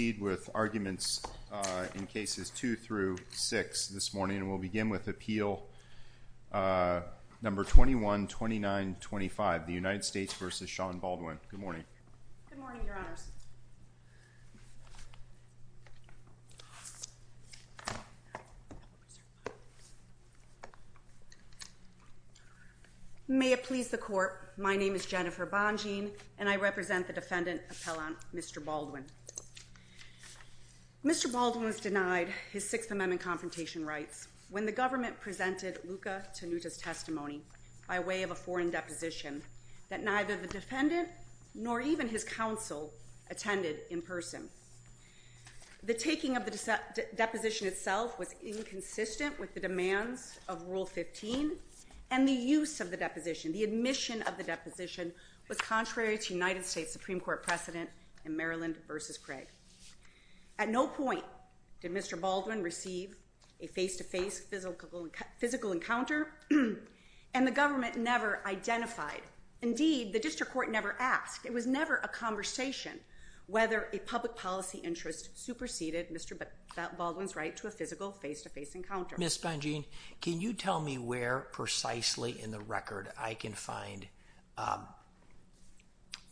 in cases two through six this morning. We'll begin with Appeal number 21-2925, the United States v. Shawn Baldwin. Good morning. Good morning, Your Honors. May it please the Court, my name is Jennifer Bonjean and I represent the defendant, Appellant Mr. Baldwin. Mr. Baldwin was denied his Sixth Amendment confrontation rights when the government presented Luca Tanuta's testimony by way of a foreign deposition that neither the defendant nor even his counsel attended in person. The taking of the deposition itself was inconsistent with the demands of Rule 15 and the use of the deposition, the admission of the deposition was contrary to the United States Supreme Court precedent in Maryland v. Craig. At no point did Mr. Baldwin receive a face-to-face physical encounter and the government never identified. Indeed, the district court never asked. It was never a conversation whether a public policy interest superseded Mr. Baldwin's right to a physical face-to-face encounter. Ms. Bonjean, can you tell me where precisely in the record I can find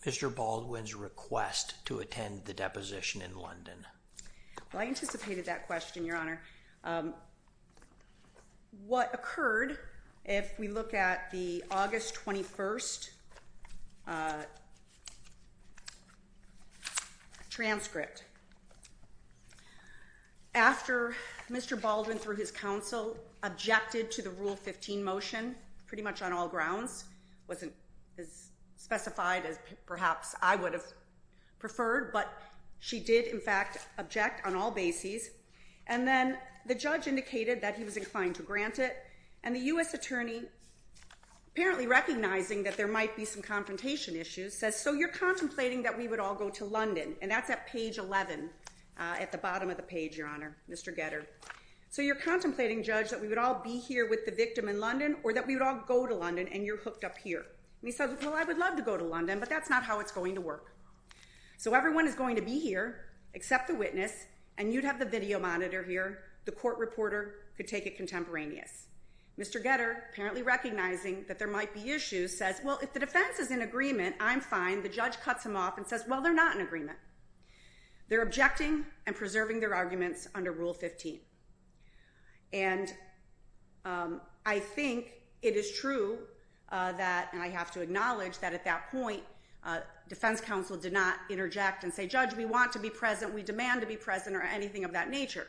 Mr. Baldwin's request to attend the deposition in London? I anticipated that question, Your Honor. What occurred, if we look at the August 21st transcript, after Mr. Baldwin, through his counsel, objected to the Rule 15 motion pretty much on all grounds, wasn't as specified as perhaps I would have preferred, but she did, in fact, object on all bases, and then the judge indicated that he was inclined to grant it, and the U.S. attorney, apparently recognizing that there might be some confrontation issues, says, So you're contemplating that we would all go to London, and that's at page 11, at the bottom of the page, Your Honor, Mr. Getter. So you're contemplating, Judge, that we would all be here with the victim in London or that we would all go to London and you're hooked up here. And he says, Well, I would love to go to London, but that's not how it's going to work. So everyone is going to be here except the witness, and you'd have the video monitor here. The court reporter could take it contemporaneous. Mr. Getter, apparently recognizing that there might be issues, says, Well, if the defense is in agreement, I'm fine. The judge cuts him off and says, Well, they're not in agreement. They're objecting and preserving their arguments under Rule 15. And I think it is true that, and I have to acknowledge that at that point, defense counsel did not interject and say, Judge, we want to be present, we demand to be present, or anything of that nature.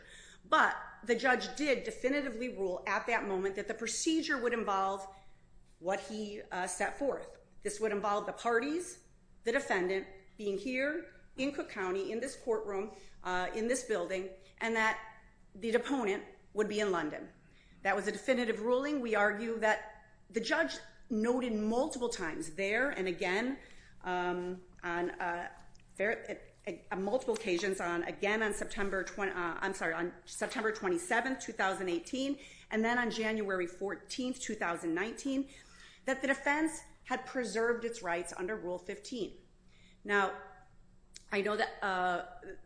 But the judge did definitively rule at that moment that the procedure would involve what he set forth. This would involve the parties, the defendant being here in Cook County, in this courtroom, in this building, and that the opponent would be in London. That was a definitive ruling. We argue that the judge noted multiple times there and again on multiple occasions, again on September 27, 2018, and then on January 14, 2019, that the defense had preserved its rights under Rule 15. Now, I know that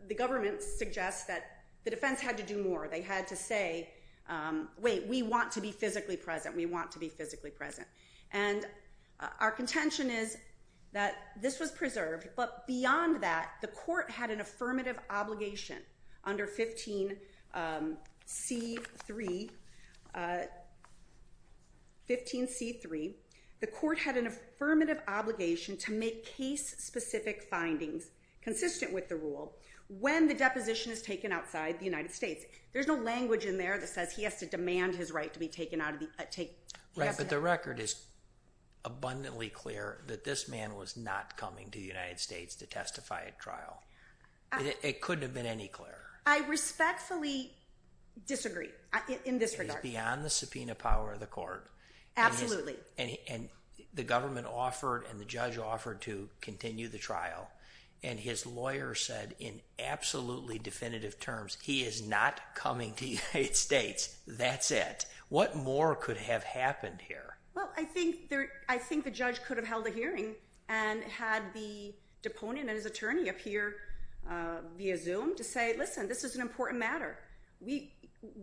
the government suggests that the defense had to do more. They had to say, Wait, we want to be physically present. We want to be physically present. And our contention is that this was preserved, but beyond that, the court had an affirmative obligation under 15C3, the court had an affirmative obligation to make case-specific findings consistent with the rule when the deposition is taken outside the United States. There's no language in there that says he has to demand his right to be taken out of the – Right, but the record is abundantly clear that this man was not coming to the United States to testify at trial. It couldn't have been any clearer. I respectfully disagree in this regard. It is beyond the subpoena power of the court. Absolutely. And the government offered and the judge offered to continue the trial, and his lawyer said in absolutely definitive terms, He is not coming to the United States. That's it. What more could have happened here? Well, I think the judge could have held a hearing and had the deponent and his attorney up here via Zoom to say, Listen, this is an important matter.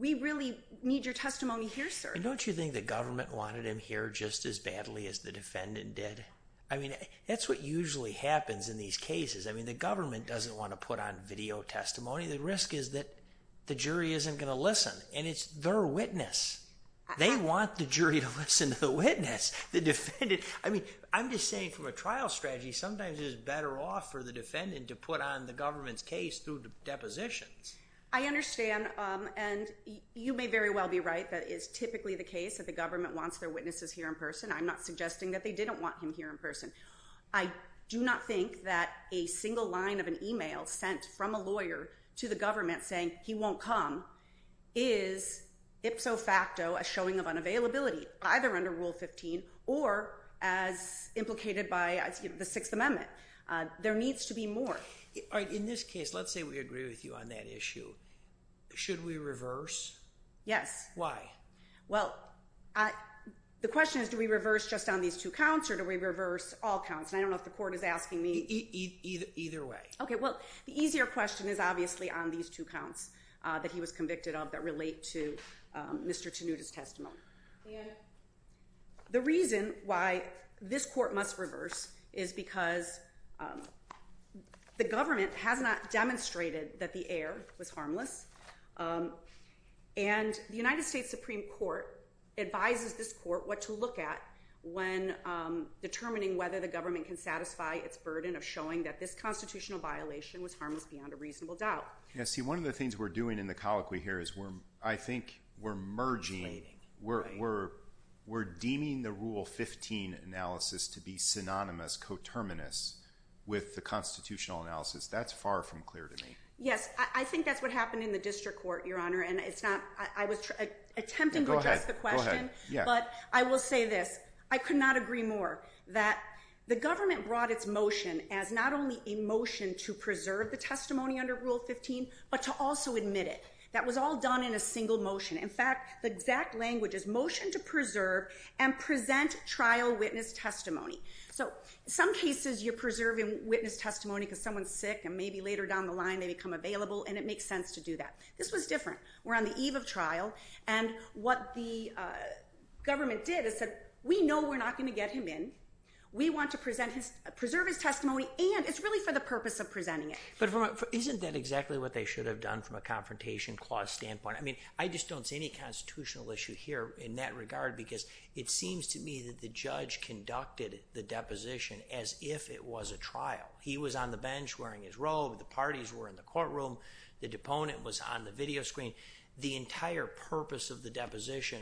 We really need your testimony here, sir. And don't you think the government wanted him here just as badly as the defendant did? I mean, that's what usually happens in these cases. I mean, the government doesn't want to put on video testimony. The risk is that the jury isn't going to listen, and it's their witness. They want the jury to listen to the witness. The defendant, I mean, I'm just saying from a trial strategy, sometimes it's better off for the defendant to put on the government's case through depositions. I understand, and you may very well be right. That is typically the case that the government wants their witnesses here in person. I'm not suggesting that they didn't want him here in person. I do not think that a single line of an email sent from a lawyer to the defendant is a facto, a showing of unavailability, either under Rule 15, or as implicated by the Sixth Amendment. There needs to be more. All right, in this case, let's say we agree with you on that issue. Should we reverse? Yes. Why? Well, the question is, do we reverse just on these two counts, or do we reverse all counts? And I don't know if the court is asking me. Either way. Okay, well, the easier question is obviously on these two counts that he was convicted of that relate to Mr. Tanuta's testimony. And the reason why this court must reverse is because the government has not demonstrated that the heir was harmless. And the United States Supreme Court advises this court what to look at when determining whether the government can satisfy its burden of showing that this constitutional violation was harmless beyond a reasonable doubt. Yeah, see, one of the things we're doing in the colloquy here is I think we're merging, we're deeming the Rule 15 analysis to be synonymous, coterminous with the constitutional analysis. That's far from clear to me. Yes, I think that's what happened in the district court, Your Honor. And I was attempting to address the question. Go ahead. But I will say this. I could not agree more that the government brought its motion as not only a to also admit it. That was all done in a single motion. In fact, the exact language is motion to preserve and present trial witness testimony. So in some cases you're preserving witness testimony because someone's sick and maybe later down the line they become available and it makes sense to do that. This was different. We're on the eve of trial and what the government did is said, we know we're not going to get him in. We want to preserve his testimony and it's really for the purpose of presenting it. But isn't that exactly what they should have done from a confrontation clause standpoint? I mean, I just don't see any constitutional issue here in that regard because it seems to me that the judge conducted the deposition as if it was a He was on the bench wearing his robe. The parties were in the courtroom. The deponent was on the video screen. The entire purpose of the deposition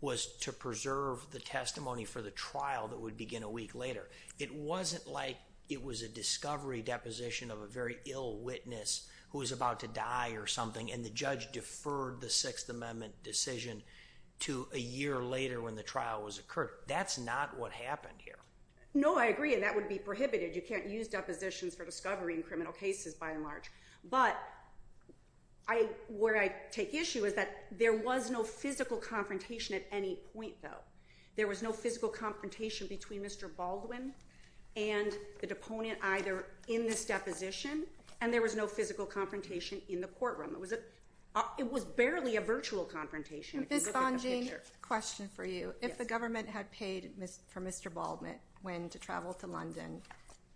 was to preserve the testimony for the trial that would begin a week later. It wasn't like it was a discovery deposition of a very ill witness who was about to die or something. And the judge deferred the sixth amendment decision to a year later when the trial was occurred. That's not what happened here. No, I agree. And that would be prohibited. You can't use depositions for discovery in criminal cases by and large. But I, where I take issue is that there was no physical confrontation at any point though. There was no physical confrontation between Mr. Baldwin and the deponent either in this deposition. And there was no physical confrontation in the courtroom. It was a, it was barely a virtual confrontation. Question for you. If the government had paid for Mr. Baldwin, when to travel to London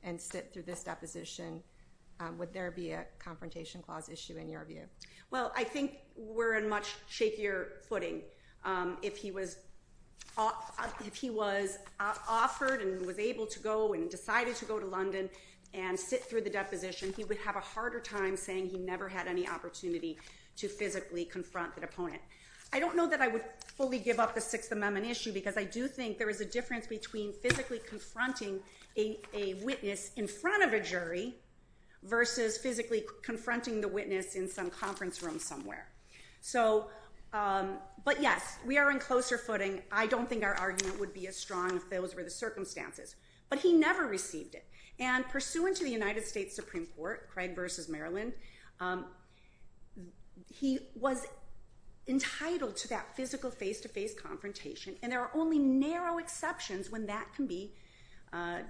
and sit through this deposition, would there be a confrontation clause issue in your view? Well, I think we're in much shakier footing. If he was off, if he was offered and was able to go and decided to go to London and sit through the deposition, he would have a harder time saying he never had any opportunity to physically confront the opponent. I don't know that I would fully give up the sixth amendment issue because I do think there is a difference between physically confronting a witness in front of a jury versus physically confronting the witness in some conference room somewhere. So, um, but yes, we are in closer footing. I don't think our argument would be as strong if those were the circumstances, but he never received it. And pursuant to the United States Supreme court, Craig versus Maryland. Um, he was entitled to that physical face to face confrontation. And there are only narrow exceptions when that can be, uh,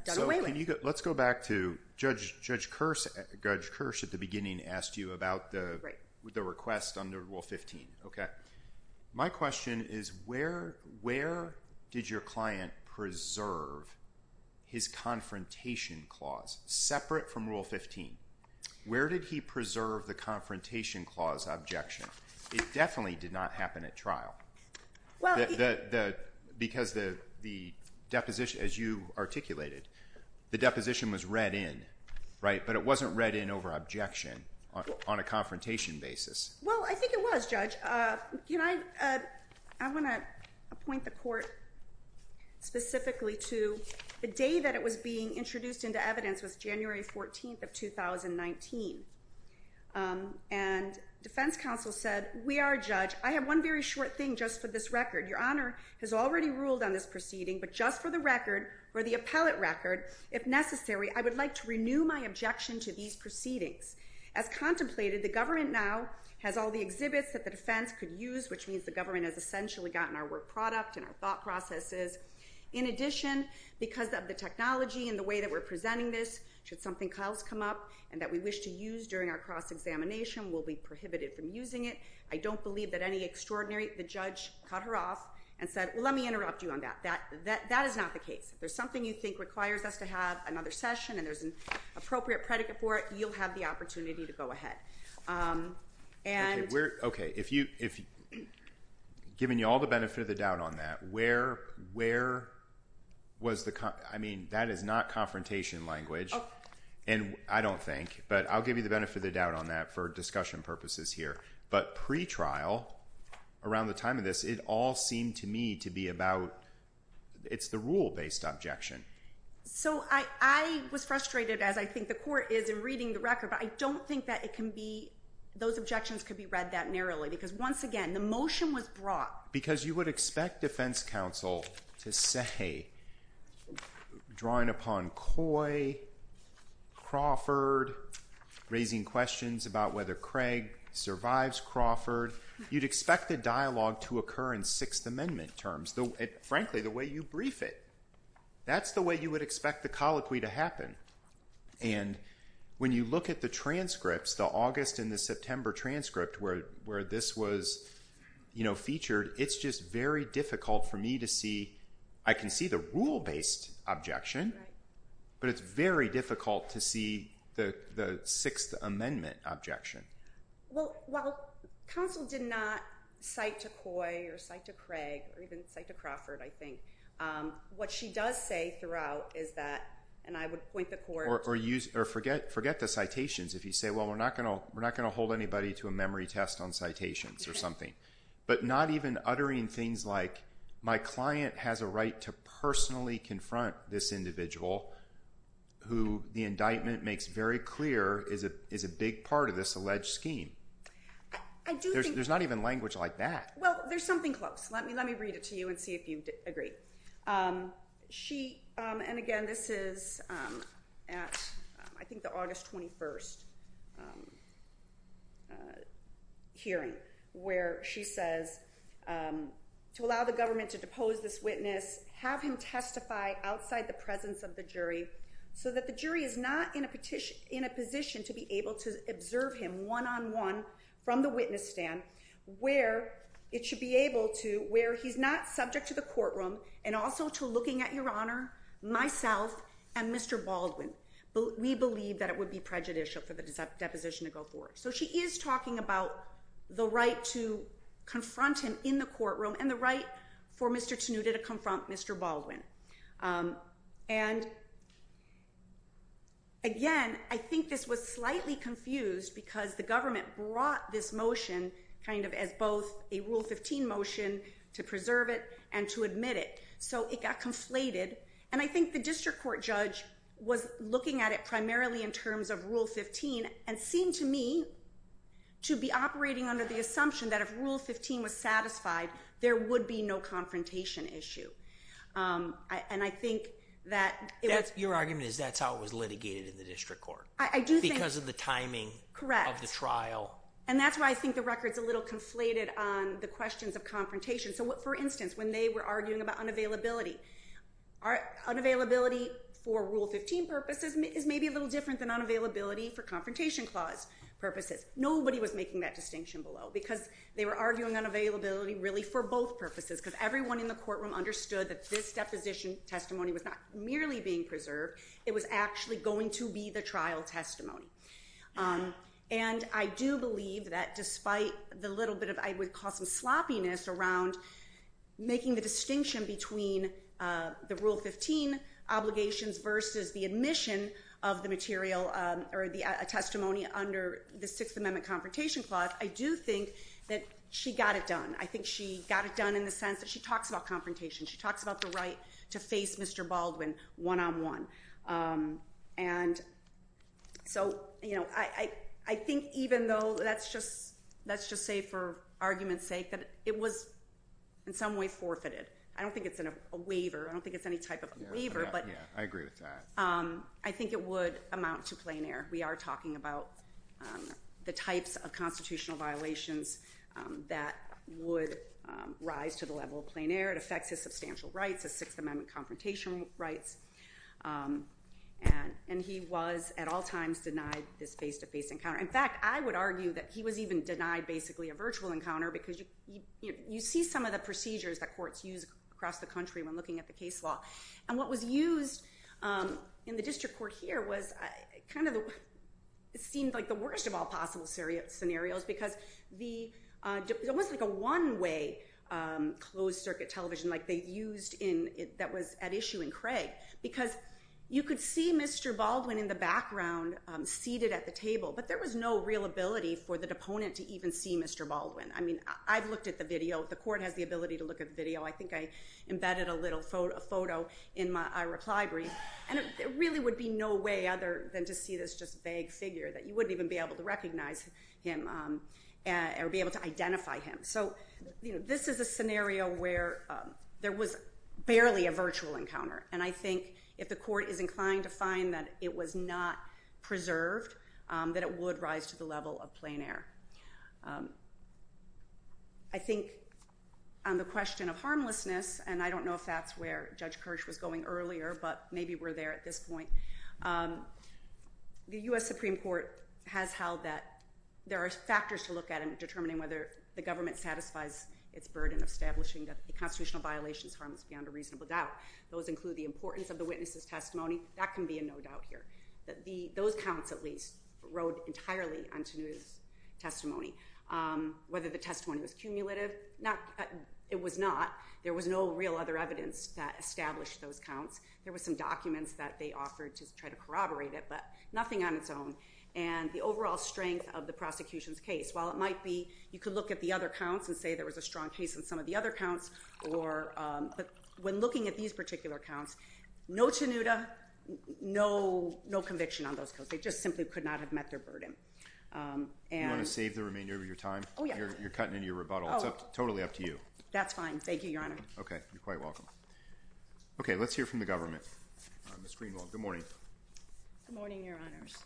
let's go back to judge judge curse. At the beginning, asked you about the request under rule 15. My question is where, where did your client preserve his confrontation clause separate from rule 15? Where did he preserve the confrontation clause objection? It definitely did not happen at trial. Well, the, the, because the, the deposition, as you articulated, the deposition was read in, right? But it wasn't read in over objection on a confrontation basis. Well, I think it was judge, uh, you know, I, uh, I want to appoint the court specifically to the day that it was being introduced into evidence was January 14th of 2019. Um, and defense counsel said, we are judge. I have one very short thing just for this record. Your honor has already ruled on this proceeding, but just for the record or the appellate record, if necessary, I would like to renew my objection to these proceedings as contemplated. The government now has all the exhibits that the defense could use, which means the government has essentially gotten our work product and our thought processes. In addition, because of the technology and the way that we're presenting this should something Kyle's come up and that we wish to use during our cross examination will be prohibited from using it. I don't believe that any extraordinary, the judge cut her off and said, well, let me interrupt you on that, that, that, that is not the case. If there's something you think requires us to have another session and there's an appropriate predicate for it, you'll have the opportunity to go ahead. and we're okay. If you, if given you all the benefit of the doubt on that, where, where was the, I mean, that is not confrontation language and I don't think, but I'll give you the benefit of the doubt on that for discussion purposes here, but pretrial around the time of this, it all seemed to me to be about, it's the rule based objection. So I, I was frustrated as I think the court is in reading the record, but I don't think that it can be, those objections could be read that narrowly because once again, the motion was brought because you would expect defense counsel to say drawing upon Coy Crawford, raising questions about whether Craig survives Crawford, you'd expect the dialogue to occur in sixth amendment terms. The frankly, the way you brief it, that's the way you would expect the colloquy to happen. And when you look at the transcripts, the August and the September transcript where, where this was featured, it's just very difficult for me to see. I can see the rule based objection, but it's very difficult to see the sixth amendment objection. Well, counsel did not cite to Coy or cite to Craig or even cite to Crawford. I think what she does say throughout is that, and I would point the court or use or forget, forget the citations. If you say, well, we're not going to, we're not going to hold anybody to a memory test on citations or something, but not even uttering things like my client has a right to personally confront this individual who the indictment makes very clear is a, is a big part of this alleged scheme. I do think there's not even language like that. there's something close. Let me, let me read it to you and see if you agree. She and again, this is at I think the August 21st hearing where she says to allow the government to depose this witness, have him testify outside the presence of the jury so that the jury is not in a petition, in a position to be able to observe him one-on-one from the witness stand where it should be able to, where he's not subject to the courtroom and also to looking at your honor, myself and Mr. Baldwin. We believe that it would be prejudicial for the deposition to go forward. So she is talking about the right to confront him in the courtroom and the right for Mr. Tanuta to confront Mr. Um, and again, I think this was slightly confused because the government brought this motion kind of as both a rule 15 motion to preserve it and to admit it. So it got conflated. And I think the district court judge was looking at it primarily in terms of rule 15 and seemed to me to be operating under the assumption that if rule 15 was satisfied, there would be no confrontation issue. Um, and I think that your argument is that's how it was litigated in the district court because of the timing of the trial. And that's why I think the record's a little conflated on the questions of confrontation. So what, for instance, when they were arguing about unavailability are unavailability for rule 15 purposes is maybe a little different than unavailability for confrontation clause purposes. Nobody was making that distinction below because they were arguing unavailability really for both purposes because everyone in the courtroom understood that this deposition testimony was not merely being preserved. It was actually going to be the trial testimony. Um, and I do believe that despite the little bit of, I would call some sloppiness around making the distinction between, uh, the rule 15 obligations versus the admission of the material, um, or the, a testimony under the sixth amendment confrontation clause. I do think that she got it done. I think she got it done in the sense that she talks about confrontation. She talks about the right to face Mr. Baldwin one-on-one. and so, you know, I, I, I think even though that's just, let's just say for argument's sake that it was in some way forfeited. I don't think it's an, a waiver. I don't think it's any type of waiver, but I agree with that. Um, I think it would amount to plain air. We are talking about, um, the types of constitutional violations, um, that would, um, rise to the level of plain air. It affects his substantial rights, a sixth amendment confrontation rights. Um, and, and he was at all times denied this face to face encounter. In fact, I would argue that he was even denied basically a virtual encounter because you, you, you see some of the procedures that courts use across the country when looking at the case law and what was used, um, in the district court here was kind of the, it seemed like the worst of all possible serious scenarios because the, uh, it was like a one way, um, closed circuit television, like they used in, that was at issue in Craig because you could see Mr. Baldwin in the background, um, seated at the table, but there was no real ability for the deponent to even see Mr. Baldwin. I mean, I've looked at the video, the court has the ability to look at the video. I think I embedded a little photo, a photo in my, I reply brief and it really would be no way other than to see this just vague figure that you wouldn't even be able to recognize him, or be able to identify him. So, you know, this is a scenario where, um, there was barely a virtual encounter. And I think if the court is inclined to find that it was not preserved, um, that it would rise to the level of plain air. Um, I think on the question of harmlessness, and I don't know if that's where judge Kirsch was going earlier, but maybe we're there at this point. Um, the U S Supreme court has held that there are factors to look at and determining whether the government satisfies its burden of establishing that the constitutional violations harms beyond a reasonable doubt. Those include the importance of the witnesses testimony. That can be a, no doubt here that the, those counts at least road entirely on to news testimony. Um, whether the testimony was cumulative, not, it was not, there was no real other evidence that established those counts. There was some documents that they offered to try to corroborate it, but nothing on its own. And the overall strength of the prosecution's case, while it might be, you could look at the other counts and say there was a strong case in some of the other counts or, but when looking at these particular counts, no Tanuda, no, no conviction on those codes. They just simply could not have met their burden. Um, and save the remainder of your time. You're cutting into your rebuttal. It's totally up to you. That's fine. Thank you, your honor. Okay. Thank you very much. You're quite welcome. Okay. Let's hear from the government on the screen. Long. Good morning. Good morning, your honors.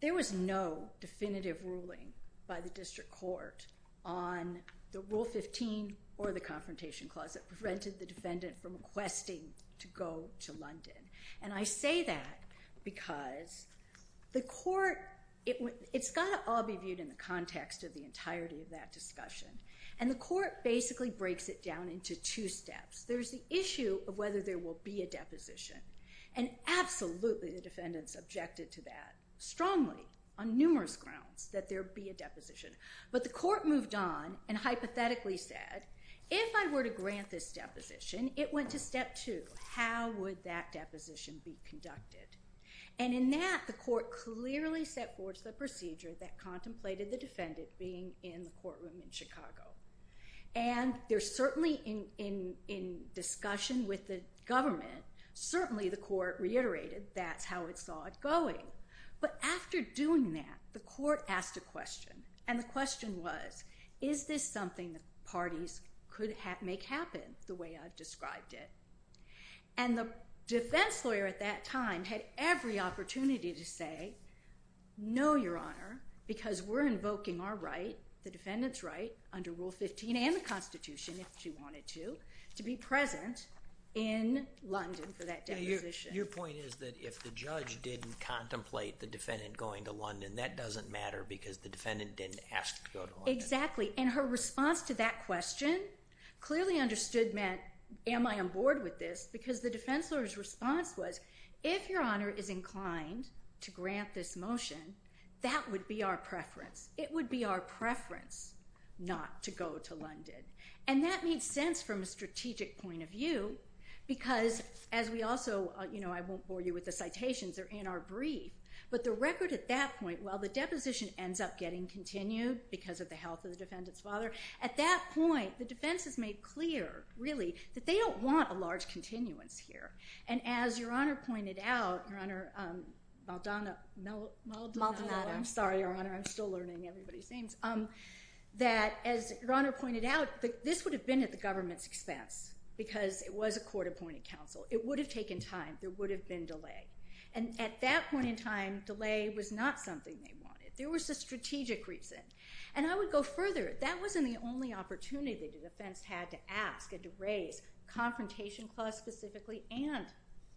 There was no definitive ruling by the district court on the rule 15 or the confrontation clause that prevented the defendant from requesting to go to And I say that because the court, it, it's got to all be viewed in the context of the entirety of that discussion. And the court basically breaks it down into two steps. There's the issue of whether there will be a deposition and absolutely the defendants objected to that strongly on numerous grounds that there be a But the court moved on and hypothetically said, if I were to grant this deposition, it went to step two. How would that deposition be conducted? And in that the court clearly set forth the procedure that contemplated the courtroom in Chicago. And there's certainly in, in, in discussion with the government, certainly the court reiterated, that's how it saw it going. But after doing that, the court asked a question and the question was, is this something that parties could have make happen the way I've described it? And the defense lawyer at that time had every opportunity to say, no, your honor, because we're invoking our right. The defendant's right under rule 15 and the constitution, if she wanted to, to be present in London for that. Your point is that if the judge didn't contemplate the defendant going to that doesn't matter because the defendant didn't ask. Exactly. And her response to that question clearly understood Matt. Am I on board with this? Because the defense lawyer's response was if your honor is inclined to grant this motion, that would be our preference. It would be our preference not to go to London. And that made sense from a strategic point of view, because as we also, you know, I won't bore you with the citations are in our brief, but the record at that point, while the deposition ends up getting continued because of the health of the defendant's father, at that point, the defense has made clear really that they don't want a large continuance here. And as your honor pointed out, Maldonado, no, Maldonado. I'm sorry, your honor. I'm still learning everybody's names. Um, that as your honor pointed out, this would have been at the government's expense because it was a court appointed counsel. It would have taken time. There would have been delay. And at that point in time, delay was not something they wanted. There was a strategic reason. And I would go further. That wasn't the only opportunity that the defense had to ask and to raise confrontation clause specifically and,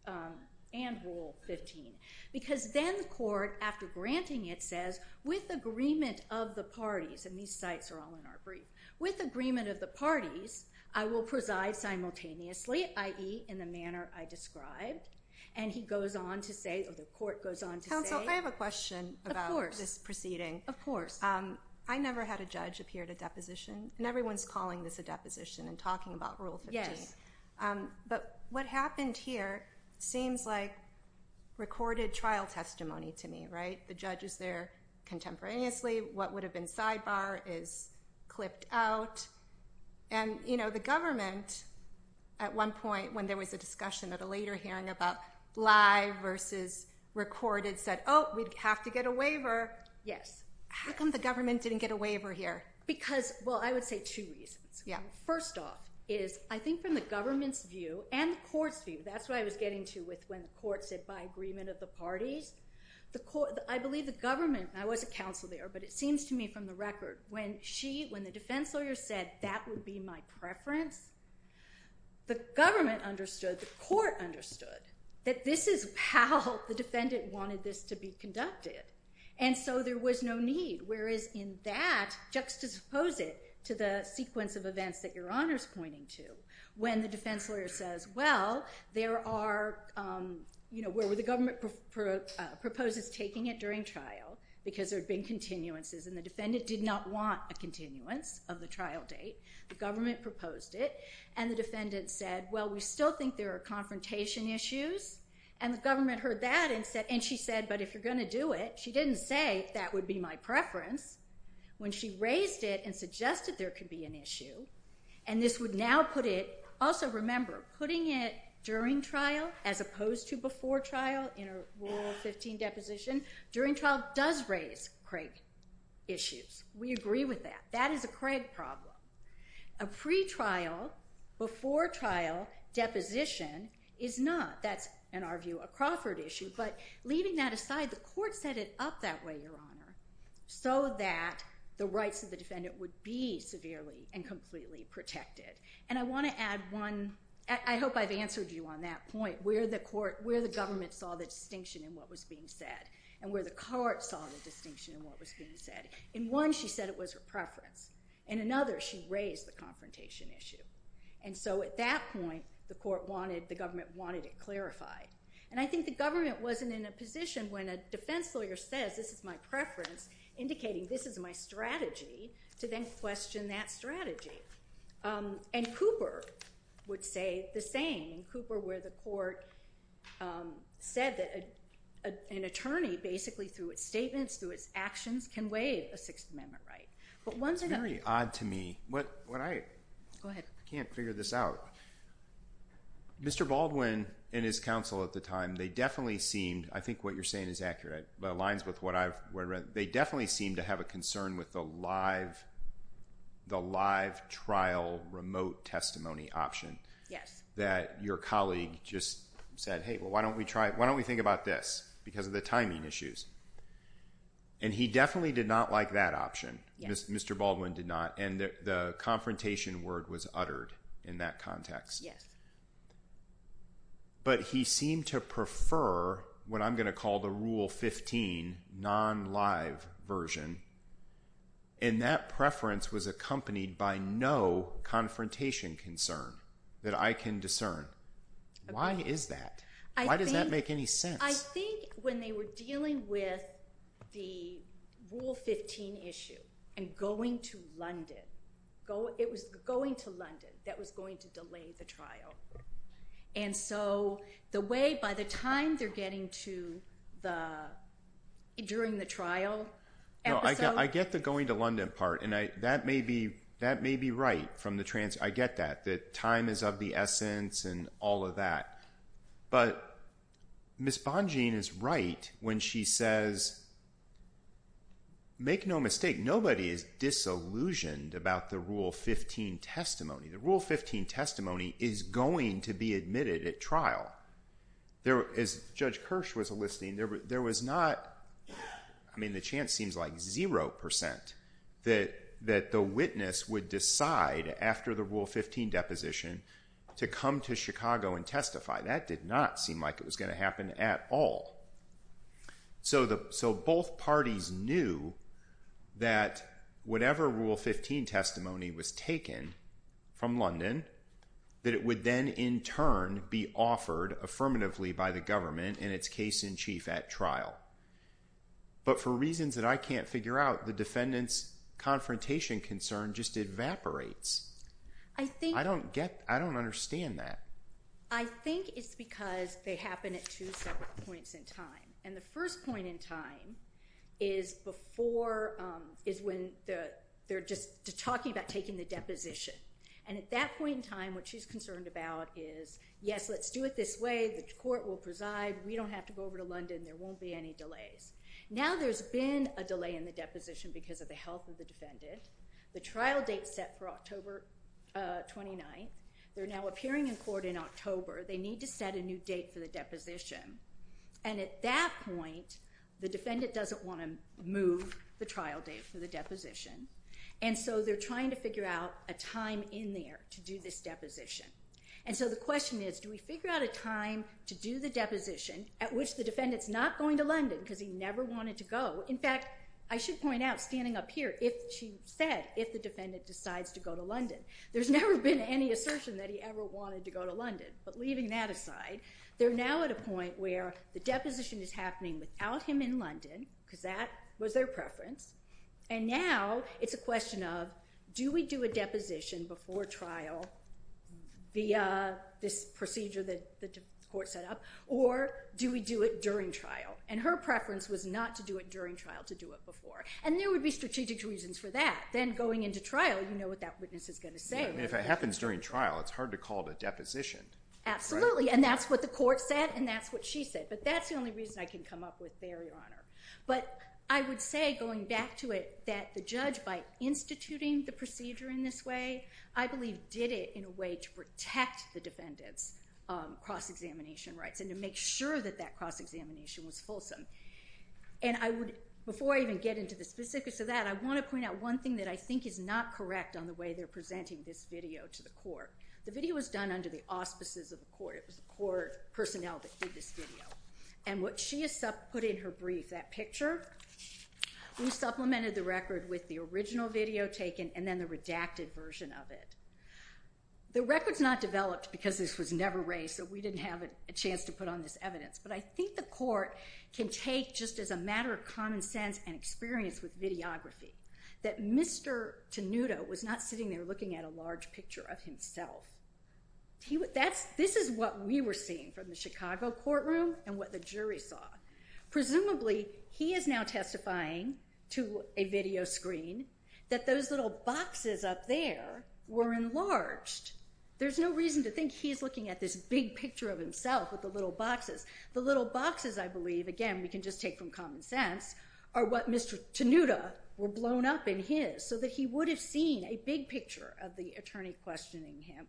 um, and rule 15, because then the court after granting it says with agreement of the parties and these sites are all in our brief with agreement of the parties, I will preside simultaneously. I E in the manner I described. And he goes on to say, the court goes on to say, I have a question about this proceeding. Of course. Um, I never had a judge appear at a deposition and everyone's calling this a deposition and talking about rule 15. Um, but what happened here seems like recorded trial testimony to me, right? The judge is there contemporaneously. What would have been sidebar is clipped out. And you know, the government at one point when there was a discussion at a later hearing about live versus recorded said, Oh, we'd have to get a waiver. Yes. How come the government didn't get a waiver here? Because, well, I would say two reasons. Yeah. First off is I think from the government's view and the court's view, that's what I was getting to with when the court said by agreement of the parties, the court, I believe the government, I was a counsel there, but it seems to me from the record when she, when the defense lawyer said that would be my preference, the government understood the court understood that this is how the defendant wanted this to be conducted. And so there was no need, whereas in that juxtapose it to the sequence of events that you're honors pointing to when the defense lawyer says, well, there are, you know, where were the government pro proposes taking it during trial because there'd been continuances and the defendant did not want a continuance of the trial date. The government proposed it and the defendant said, well, we still think there are confrontation issues and the government heard that and said, and she said, but if you're going to do it, she didn't say that would be my preference when she raised it and suggested that there could be an issue. And this would now put it also remember putting it during trial as opposed to before trial in a rule 15 deposition during trial does raise Craig issues. We agree with that. That is a Craig problem. A pre trial before trial deposition is not, that's in our view, a Crawford issue, but leaving that aside, the court set it up that way, so that the rights of the defendant would be severely and completely protected. And I want to add one. I hope I've answered you on that point where the court, where the government saw the distinction in what was being said and where the cart saw the distinction in what was being said. In one, she said it was her preference and another, she raised the confrontation issue. And so at that point, the court wanted, the government wanted it clarified. And I think the government wasn't in a position when a defense lawyer says, this is my preference indicating this is my strategy to then question that Um, and Cooper would say the same Cooper where the court, um, said that, uh, an attorney basically through its statements, through its actions can waive a sixth amendment, right? But once I got odd to me, what, what I can't figure this out, Mr. Baldwin and his counsel at the time, they definitely seemed, I think what you're saying is accurate, but aligns with what I've read. They definitely seem to have a concern with the live, the live trial remote testimony option. Yes. That your colleague just said, Hey, well, why don't we try it? Why don't we think about this because of the timing issues. And he definitely did not like that option. Mr. Baldwin did not. And the confrontation word was uttered in that context. Yes. But he seemed to prefer what I'm going to call the rule. 15 non live version. And that preference was accompanied by no confrontation concern that I can discern. Why is that? Why does that make any sense? I think when they were dealing with the. Rule 15 issue and going to London, go, it was going to London that was going to delay the trial. And so the way, by the time they're getting to the, during the trial. I get the going to London part. And I, that may be, that may be right from the trans. I get that. That time is of the essence and all of that. But. Ms. Bonjean is right. When she says. Make no mistake. Nobody is disillusioned about the rule 15 testimony. The rule 15 testimony is going to be admitted at trial. There is judge Kirsch was a listing there, but there was not. I mean, the chance seems like 0% that that the witness would decide after the rule 15 deposition to come to Chicago and testify. That did not seem like it was going to happen at all. So the, so both parties knew that whatever rule 15 testimony was taken from the from London, that it would then in turn be offered affirmatively by the government and it's case in chief at trial. But for reasons that I can't figure out the defendants confrontation concern just evaporates. I think I don't get, I don't understand that. I think it's because they happen at two separate points in time. And the first point in time is before is when the, they're just talking about taking the deposition. And at that point in time, what she's concerned about is yes, let's do it this way. The court will preside. We don't have to go over to London. There won't be any delays. Now there's been a delay in the deposition because of the health of the The trial date set for October 29th. They're now appearing in court in October. They need to set a new date for the deposition. And at that point, the defendant doesn't want to move the trial date for the deposition. And so they're trying to figure out a time in there to do this deposition. And so the question is, do we figure out a time to do the deposition at which the defendant's not going to London because he never wanted to go. In fact, I should point out standing up here if she said if the defendant decides to go to London, there's never been any assertion that he ever wanted to go to London, but leaving that aside, they're now at a point where the deposition is happening without him in London because that was their preference. And now it's a question of, do we do a deposition before trial? The, uh, this procedure that the court set up or do we do it during trial? And her preference was not to do it during trial to do it before. And there would be strategic reasons for that. Then going into trial, you know what that witness is going to say. If it happens during trial, it's hard to call it a deposition. Absolutely. And that's what the court said. And that's what she said. But that's the only reason I can come up with barrier on her. But I would say going back to it, that the judge, by instituting the procedure in this way, I believe did it in a way to protect the defendants, um, cross examination rights and to make sure that that cross examination was fulsome. And I would, before I even get into the specifics of that, I want to point out one thing that I think is not correct on the way they're presenting this video to the court. The video was done under the auspices of the court. It was the court personnel that did this video. And what she has put in her brief, that picture, we supplemented the record with the original video taken and then the redacted version of it. The record's not developed because this was never raised. So we didn't have a chance to put on this evidence, but I think the court can take just as a matter of common sense and experience with videography that Mr. Tenuto was not sitting there looking at a large picture of himself. He would, that's, this is what we were seeing from the Chicago courtroom and what the jury saw. Presumably he is now testifying to a video screen that those little boxes up there were enlarged. There's no reason to think he's looking at this big picture of himself with the little boxes. The little boxes, I believe, again, we can just take from common sense, are what Mr. Tenuto were blown up in his, so that he would have seen a big picture of the attorney questioning him,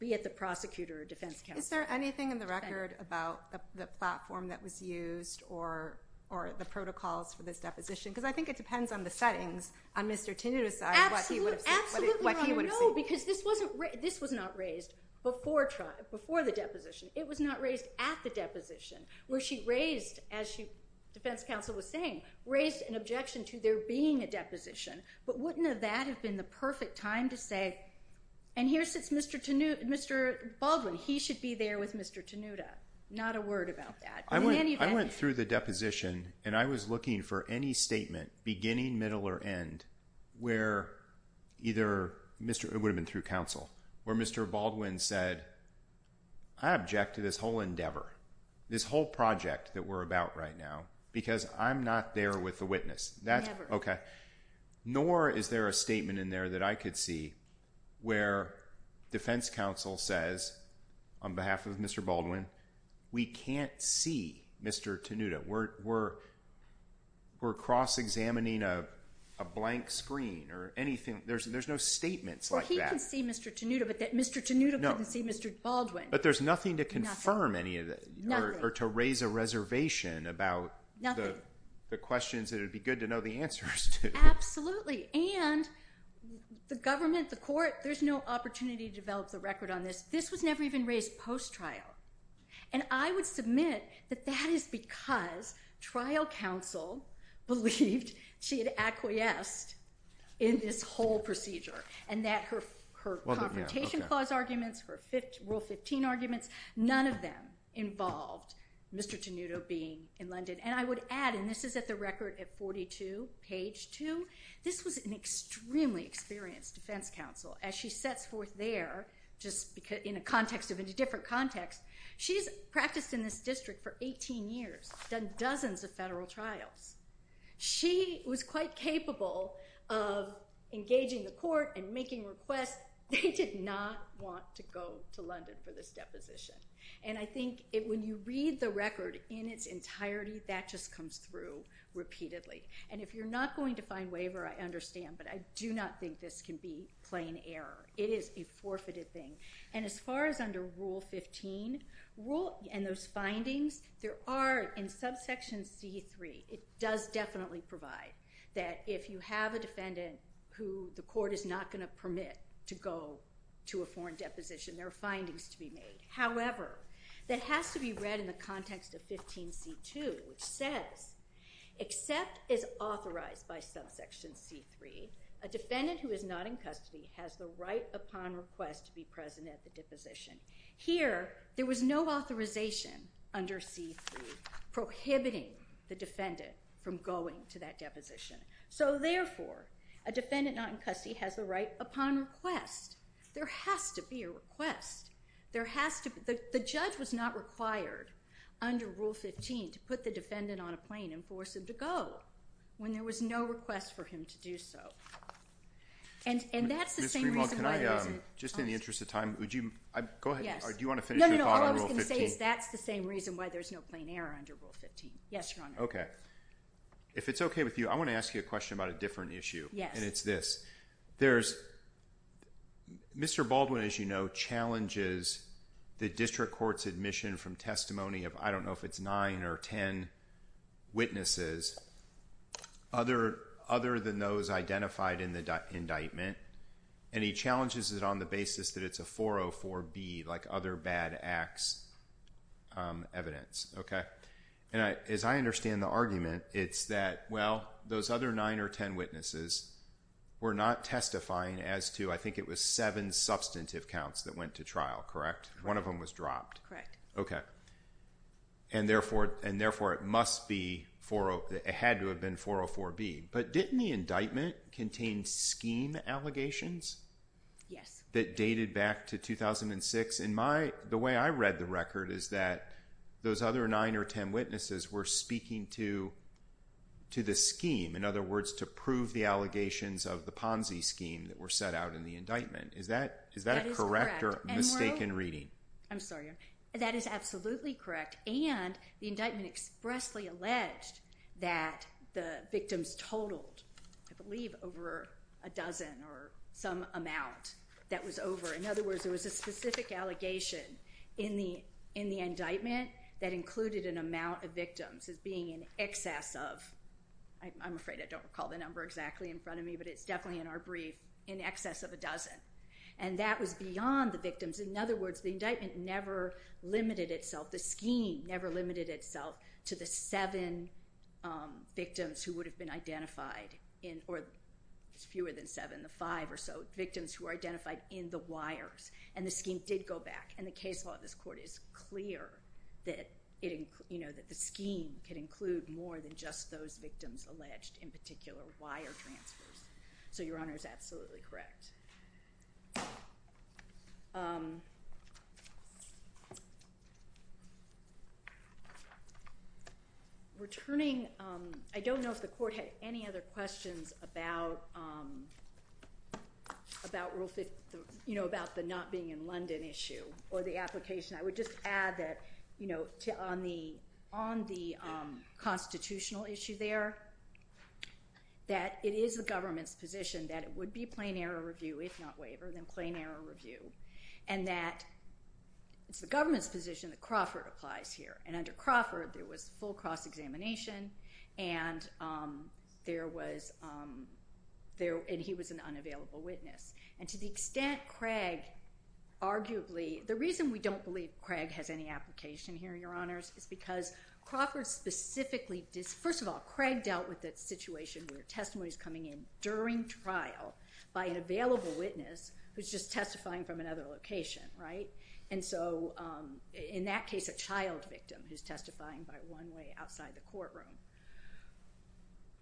be it the prosecutor or defense counsel. Is there anything in the record about the platform that was used or, or the protocols for this deposition? Because I think it depends on the settings on Mr. Tenuto's side, what he would have seen. Because this wasn't raised, this was not raised before trial, before the deposition, it was not raised at the deposition where she raised, as she defense counsel was saying, raised an objection to there being a deposition, but wouldn't have that have been the perfect time to say, and here sits Mr. Tenuto, Mr. Baldwin, he should be there with Mr. Tenuto, not a word about that. I went, I went through the deposition and I was looking for any statement beginning, middle, or end where either Mr. It would have been through counsel where Mr. Baldwin said, I object to this whole endeavor, this whole project that we're about right now, because I'm not there with the witness. That's okay. Nor is there a statement in there that I could see where defense counsel says on behalf of Mr. we can't see Mr. Tenuto. We're, we're, we're cross-examining a, a blank screen or anything. There's, there's no statements like that. Tenuto, but that Mr. Tenuto couldn't see Mr. Baldwin, but there's nothing to confirm any of that or to raise a reservation about the questions that it'd be good to know the answers to. Absolutely. And the government, the court, there's no opportunity to develop the record on this. This was never even raised post trial. And I would submit that that is because trial counsel believed she had acquiesced in this whole procedure and that her, her confrontation clause arguments, her fifth rule 15 arguments, none of them involved Mr. Tenuto being in London. And I would add, and this is at the record at 42 page two, this was an extremely experienced defense counsel. As she sets forth there, just because in a context of a different context, she's practiced in this district for 18 years, done dozens of federal trials. She was quite capable of engaging the court and making requests. They did not want to go to London for this deposition. And I think it, when you read the record in its entirety, that just comes through repeatedly. And if you're not going to find waiver, I understand, but I do not think this can be plain error. It is a forfeited thing. And as far as under rule 15 rule and those findings there are in subsection C3, it does definitely provide that if you have a defendant who the court is not going to permit to go to a foreign deposition, there are findings to be made. However, that has to be read in the context of 15 C2, which says except is authorized by subsection C3, a defendant who is not in custody has the right upon request to be present at the deposition here. There was no authorization under C3 prohibiting the defendant from going to that deposition. So therefore a defendant not in custody has the right upon request. There has to be a request. There has to, the judge was not required under rule 15 to put the defendant on a plane and force him to go when there was no request for him to do so. And that's the same reason. Just in the interest of time, would you go ahead? Do you want to finish? That's the same reason why there's no plain error under rule 15. Yes. Okay. If it's okay with you, I want to ask you a question about a different issue and it's this there's Mr. Baldwin, as you know, challenges the district court's admission from testimony of, I don't know if it's nine or 10 witnesses other, other than those identified in the indictment. And he challenges it on the basis that it's a 404 B like other bad acts evidence. Okay. And I, as I understand the argument, it's that, well, those other nine or 10 witnesses were not testifying as to, I think it was seven substantive counts that went to trial, correct? One of them was dropped. And therefore, and therefore it must be for, it had to have been 404 B but didn't the indictment contained scheme allegations. Yes. That dated back to 2006 in my, the way I read the record is that those other nine or 10 witnesses were speaking to, to the scheme. In other words, to prove the allegations of the Ponzi scheme that were set out in the indictment. Is that, is that a correct or mistaken reading? I'm sorry. That is absolutely correct. And the indictment expressly alleged that the victims totaled, I believe over a dozen or some amount that was over. In other words, there was a specific allegation in the, in the indictment that included an amount of victims as being in excess of, I'm afraid I don't recall the number exactly in front of me, but it's definitely in our brief in excess of a dozen. And that was beyond the victims. In other words, the indictment never limited itself. The scheme never limited itself to the seven victims who would have been identified in, or fewer than seven, the five or so victims who are identified in the wires and the scheme did go back. And the case law, this court is clear that it, you know, that the scheme can include more than just those victims alleged in particular wire transfers. So your Honor is absolutely correct. Returning. I don't know if the court had any other questions about, about rule 50, you know, about the not being in London issue or the application. I would just add that, you know, to, on the, on the constitutional issue there, that it is the government's position that it would be plain error review, if not waiver, then plain error review. And that it's the government's position that Crawford applies here. And under Crawford, there was full cross-examination and there was there, and he was an unavailable witness. And to the extent Craig arguably, the reason we don't believe Craig has any application here, Your Honors, is because Crawford specifically does, first of all, Craig dealt with that situation where testimonies coming in during trial by an available witness, who's just testifying from another location, right? And so in that case, a child victim who's testifying by one way outside the courtroom.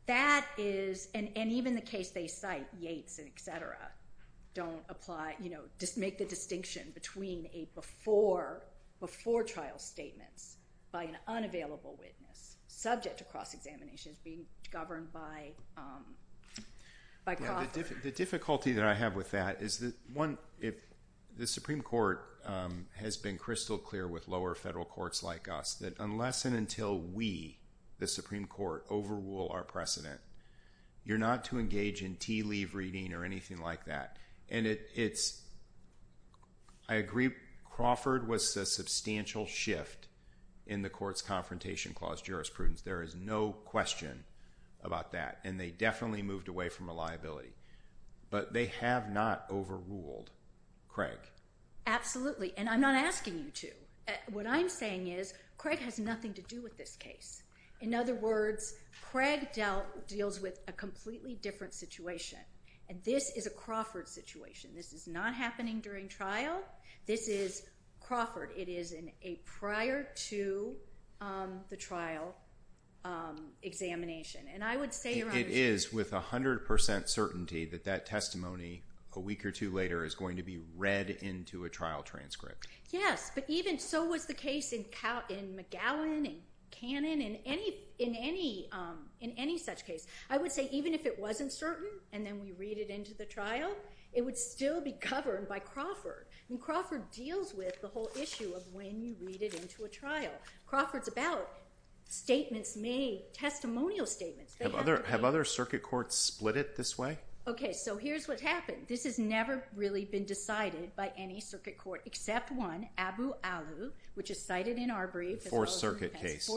That is, and even the case they cite, Yates and et cetera, don't apply, you know, just make the distinction between a before, before trial statements by an unavailable witness, subject to cross-examinations being governed by, by Crawford. The difficulty that I have with that is that one, if the Supreme Court has been crystal clear with lower federal courts like us, that unless and until we, the Supreme Court overrule our precedent, you're not to engage in tea leave reading or anything like that. And it's, I agree, Crawford was a substantial shift in the court's confrontation clause jurisprudence. There is no question about that. And they definitely moved away from a liability, but they have not overruled Craig. Absolutely. And I'm not asking you to, what I'm saying is, Craig has nothing to do with this case. In other words, Craig dealt, deals with a completely different situation. And this is a Crawford situation. This is not happening during trial. This is Crawford. It is in a prior to the trial examination. And I would say, It is with a hundred percent certainty that that testimony a week or two later is going to be read into a trial transcript. Yes. But even so was the case in McGowan and Cannon and any, in any, in any such case, I would say, even if it wasn't certain and then we read it into the trial, it would still be governed by Crawford. And Crawford deals with the whole issue of when you read it into a trial. Crawford's about statements made, testimonial statements. Have other, have other circuit courts split it this way? Okay. So here's what happened. This has never really been decided by any circuit court except one, Abu Alu, which is cited in our brief. Fourth Circuit case.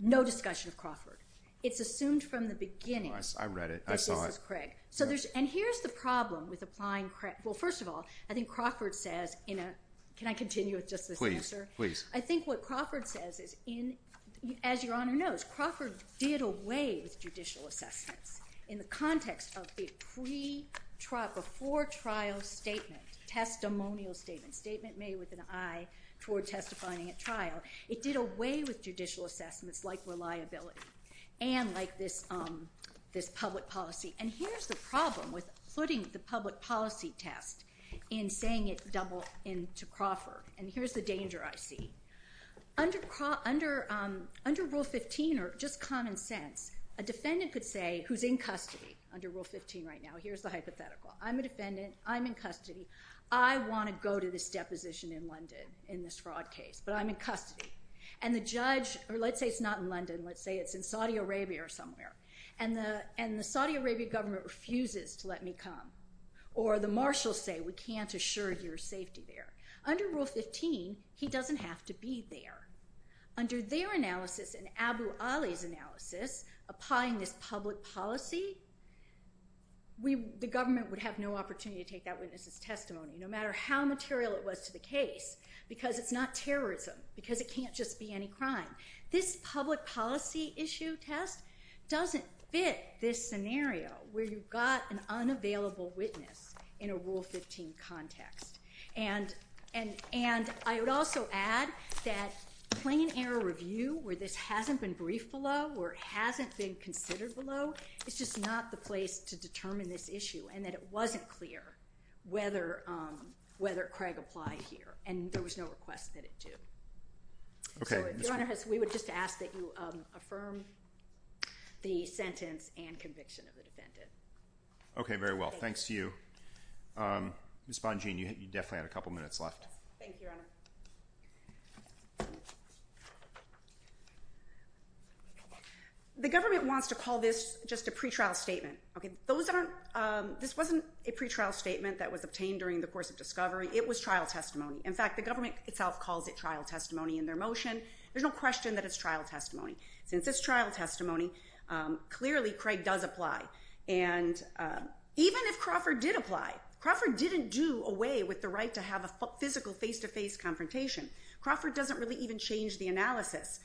No discussion of Crawford. It's assumed from the beginning. I read it. I saw it. This is Craig. So there's, and here's the problem with applying Craig. Well, first of all, I think Crawford says in a, can I continue with just this answer? Please. I think what Crawford says is in, as your Honor knows, Crawford did away with judicial assessments in the context of the pre trial, before trial statement, testimonial statement, statement made with an eye toward testifying at trial. It did away with judicial assessments like reliability and like this, this public policy. And here's the problem with putting the public policy test in saying it's double in to Crawford. And here's the danger I see. Under, under, under rule 15 or just common sense, a defendant could say who's in custody under rule 15 right now, here's the hypothetical. I'm a defendant. I'm in custody. I want to go to this deposition in London in this fraud case, but I'm in custody. And the judge, or let's say it's not in London. Let's say it's in Saudi Arabia or somewhere and the, and the Saudi Arabia government refuses to let me come or the Marshall say, we can't assure your safety there under rule 15. He doesn't have to be there under their analysis and Abu Ali's analysis applying this public policy. We, the government would have no opportunity to take that witness's testimony, no matter how material it was to the case, because it's not terrorism, because it can't just be any crime. This public policy issue test doesn't fit this scenario where you've got an unavailable witness in a rule 15 context. And, and, and I would also add that plain error review where this hasn't been brief below where it hasn't been considered below. It's just not the place to determine this issue and that it wasn't clear whether whether Craig applied here and there was no request that it do. Okay. We would just ask that you affirm the sentence and conviction of the defendant. Okay. Very well. Thanks to you. You definitely had a couple minutes left. The government wants to call this just a pretrial statement. Okay. Those aren't this wasn't a pretrial statement that was obtained during the course of discovery. It was trial testimony. In fact, the government itself calls it trial testimony in their motion. There's no question that it's trial testimony since it's trial testimony. Clearly Craig does apply. And even if Crawford did apply, Crawford didn't do away with the right to have a physical face-to-face confrontation. Crawford doesn't really even change the analysis.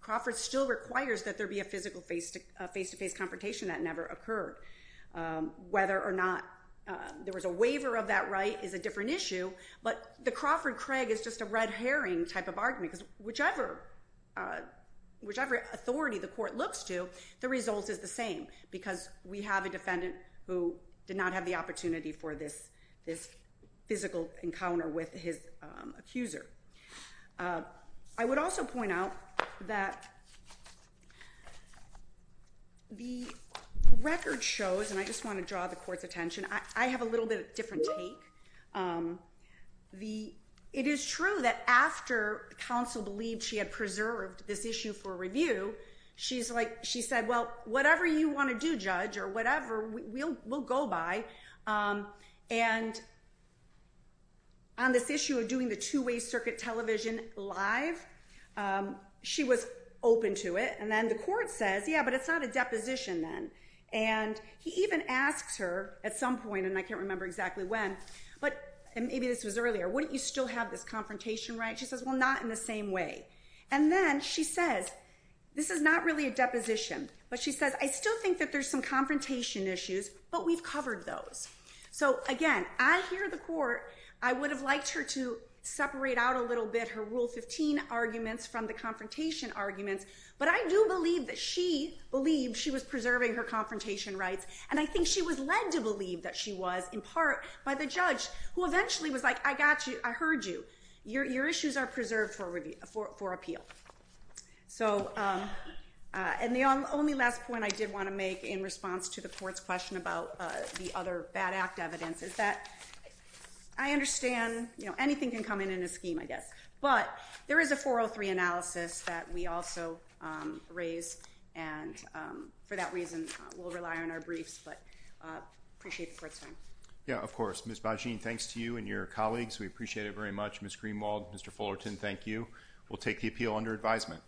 Crawford still requires that there be a physical face to face-to-face confrontation that never occurred whether or not there was a waiver of that right is a different issue, but the Crawford Craig is just a red herring type of argument because whichever whichever authority the court looks to the results is the same because we have a defendant who did not have the opportunity for this, this physical encounter with his accuser. I would also point out that the record shows, and I just want to draw the court's attention. I have a little bit of different take. It is true that after counsel believed she had preserved this issue for review, she said, well, whatever you want to do judge or whatever, we'll go by. On this issue of doing the two-way circuit television live, she was open to it. And then the court says, yeah, but it's not a deposition then. And he even asks her at some point, and I can't remember exactly when, but maybe this was earlier. Wouldn't you still have this confrontation, right? She says, well, not in the same way. And then she says, this is not really a deposition, but she says, I still think that there's some confrontation issues, but we've covered those. So again, I hear the court. I would have liked her to separate out a little bit, her rule 15 arguments from the confrontation arguments, but I do believe that she believed she was preserving her confrontation rights. And I think she was led to believe that she was in part by the judge who eventually was like, I got you. I heard you. Your issues are preserved for appeal. And the only last point I did want to make in response to the court's question about the other bad act evidence is that I understand, anything can come in in a scheme, I guess, but there is a 403 analysis that we also raise. And for that reason, we'll rely on our briefs, but appreciate the court's time. Yeah, of course. Ms. Bajeen, thanks to you and your colleagues. We appreciate it very much. Ms. Greenwald, Mr. Fullerton, thank you. We'll take the appeal under advisement.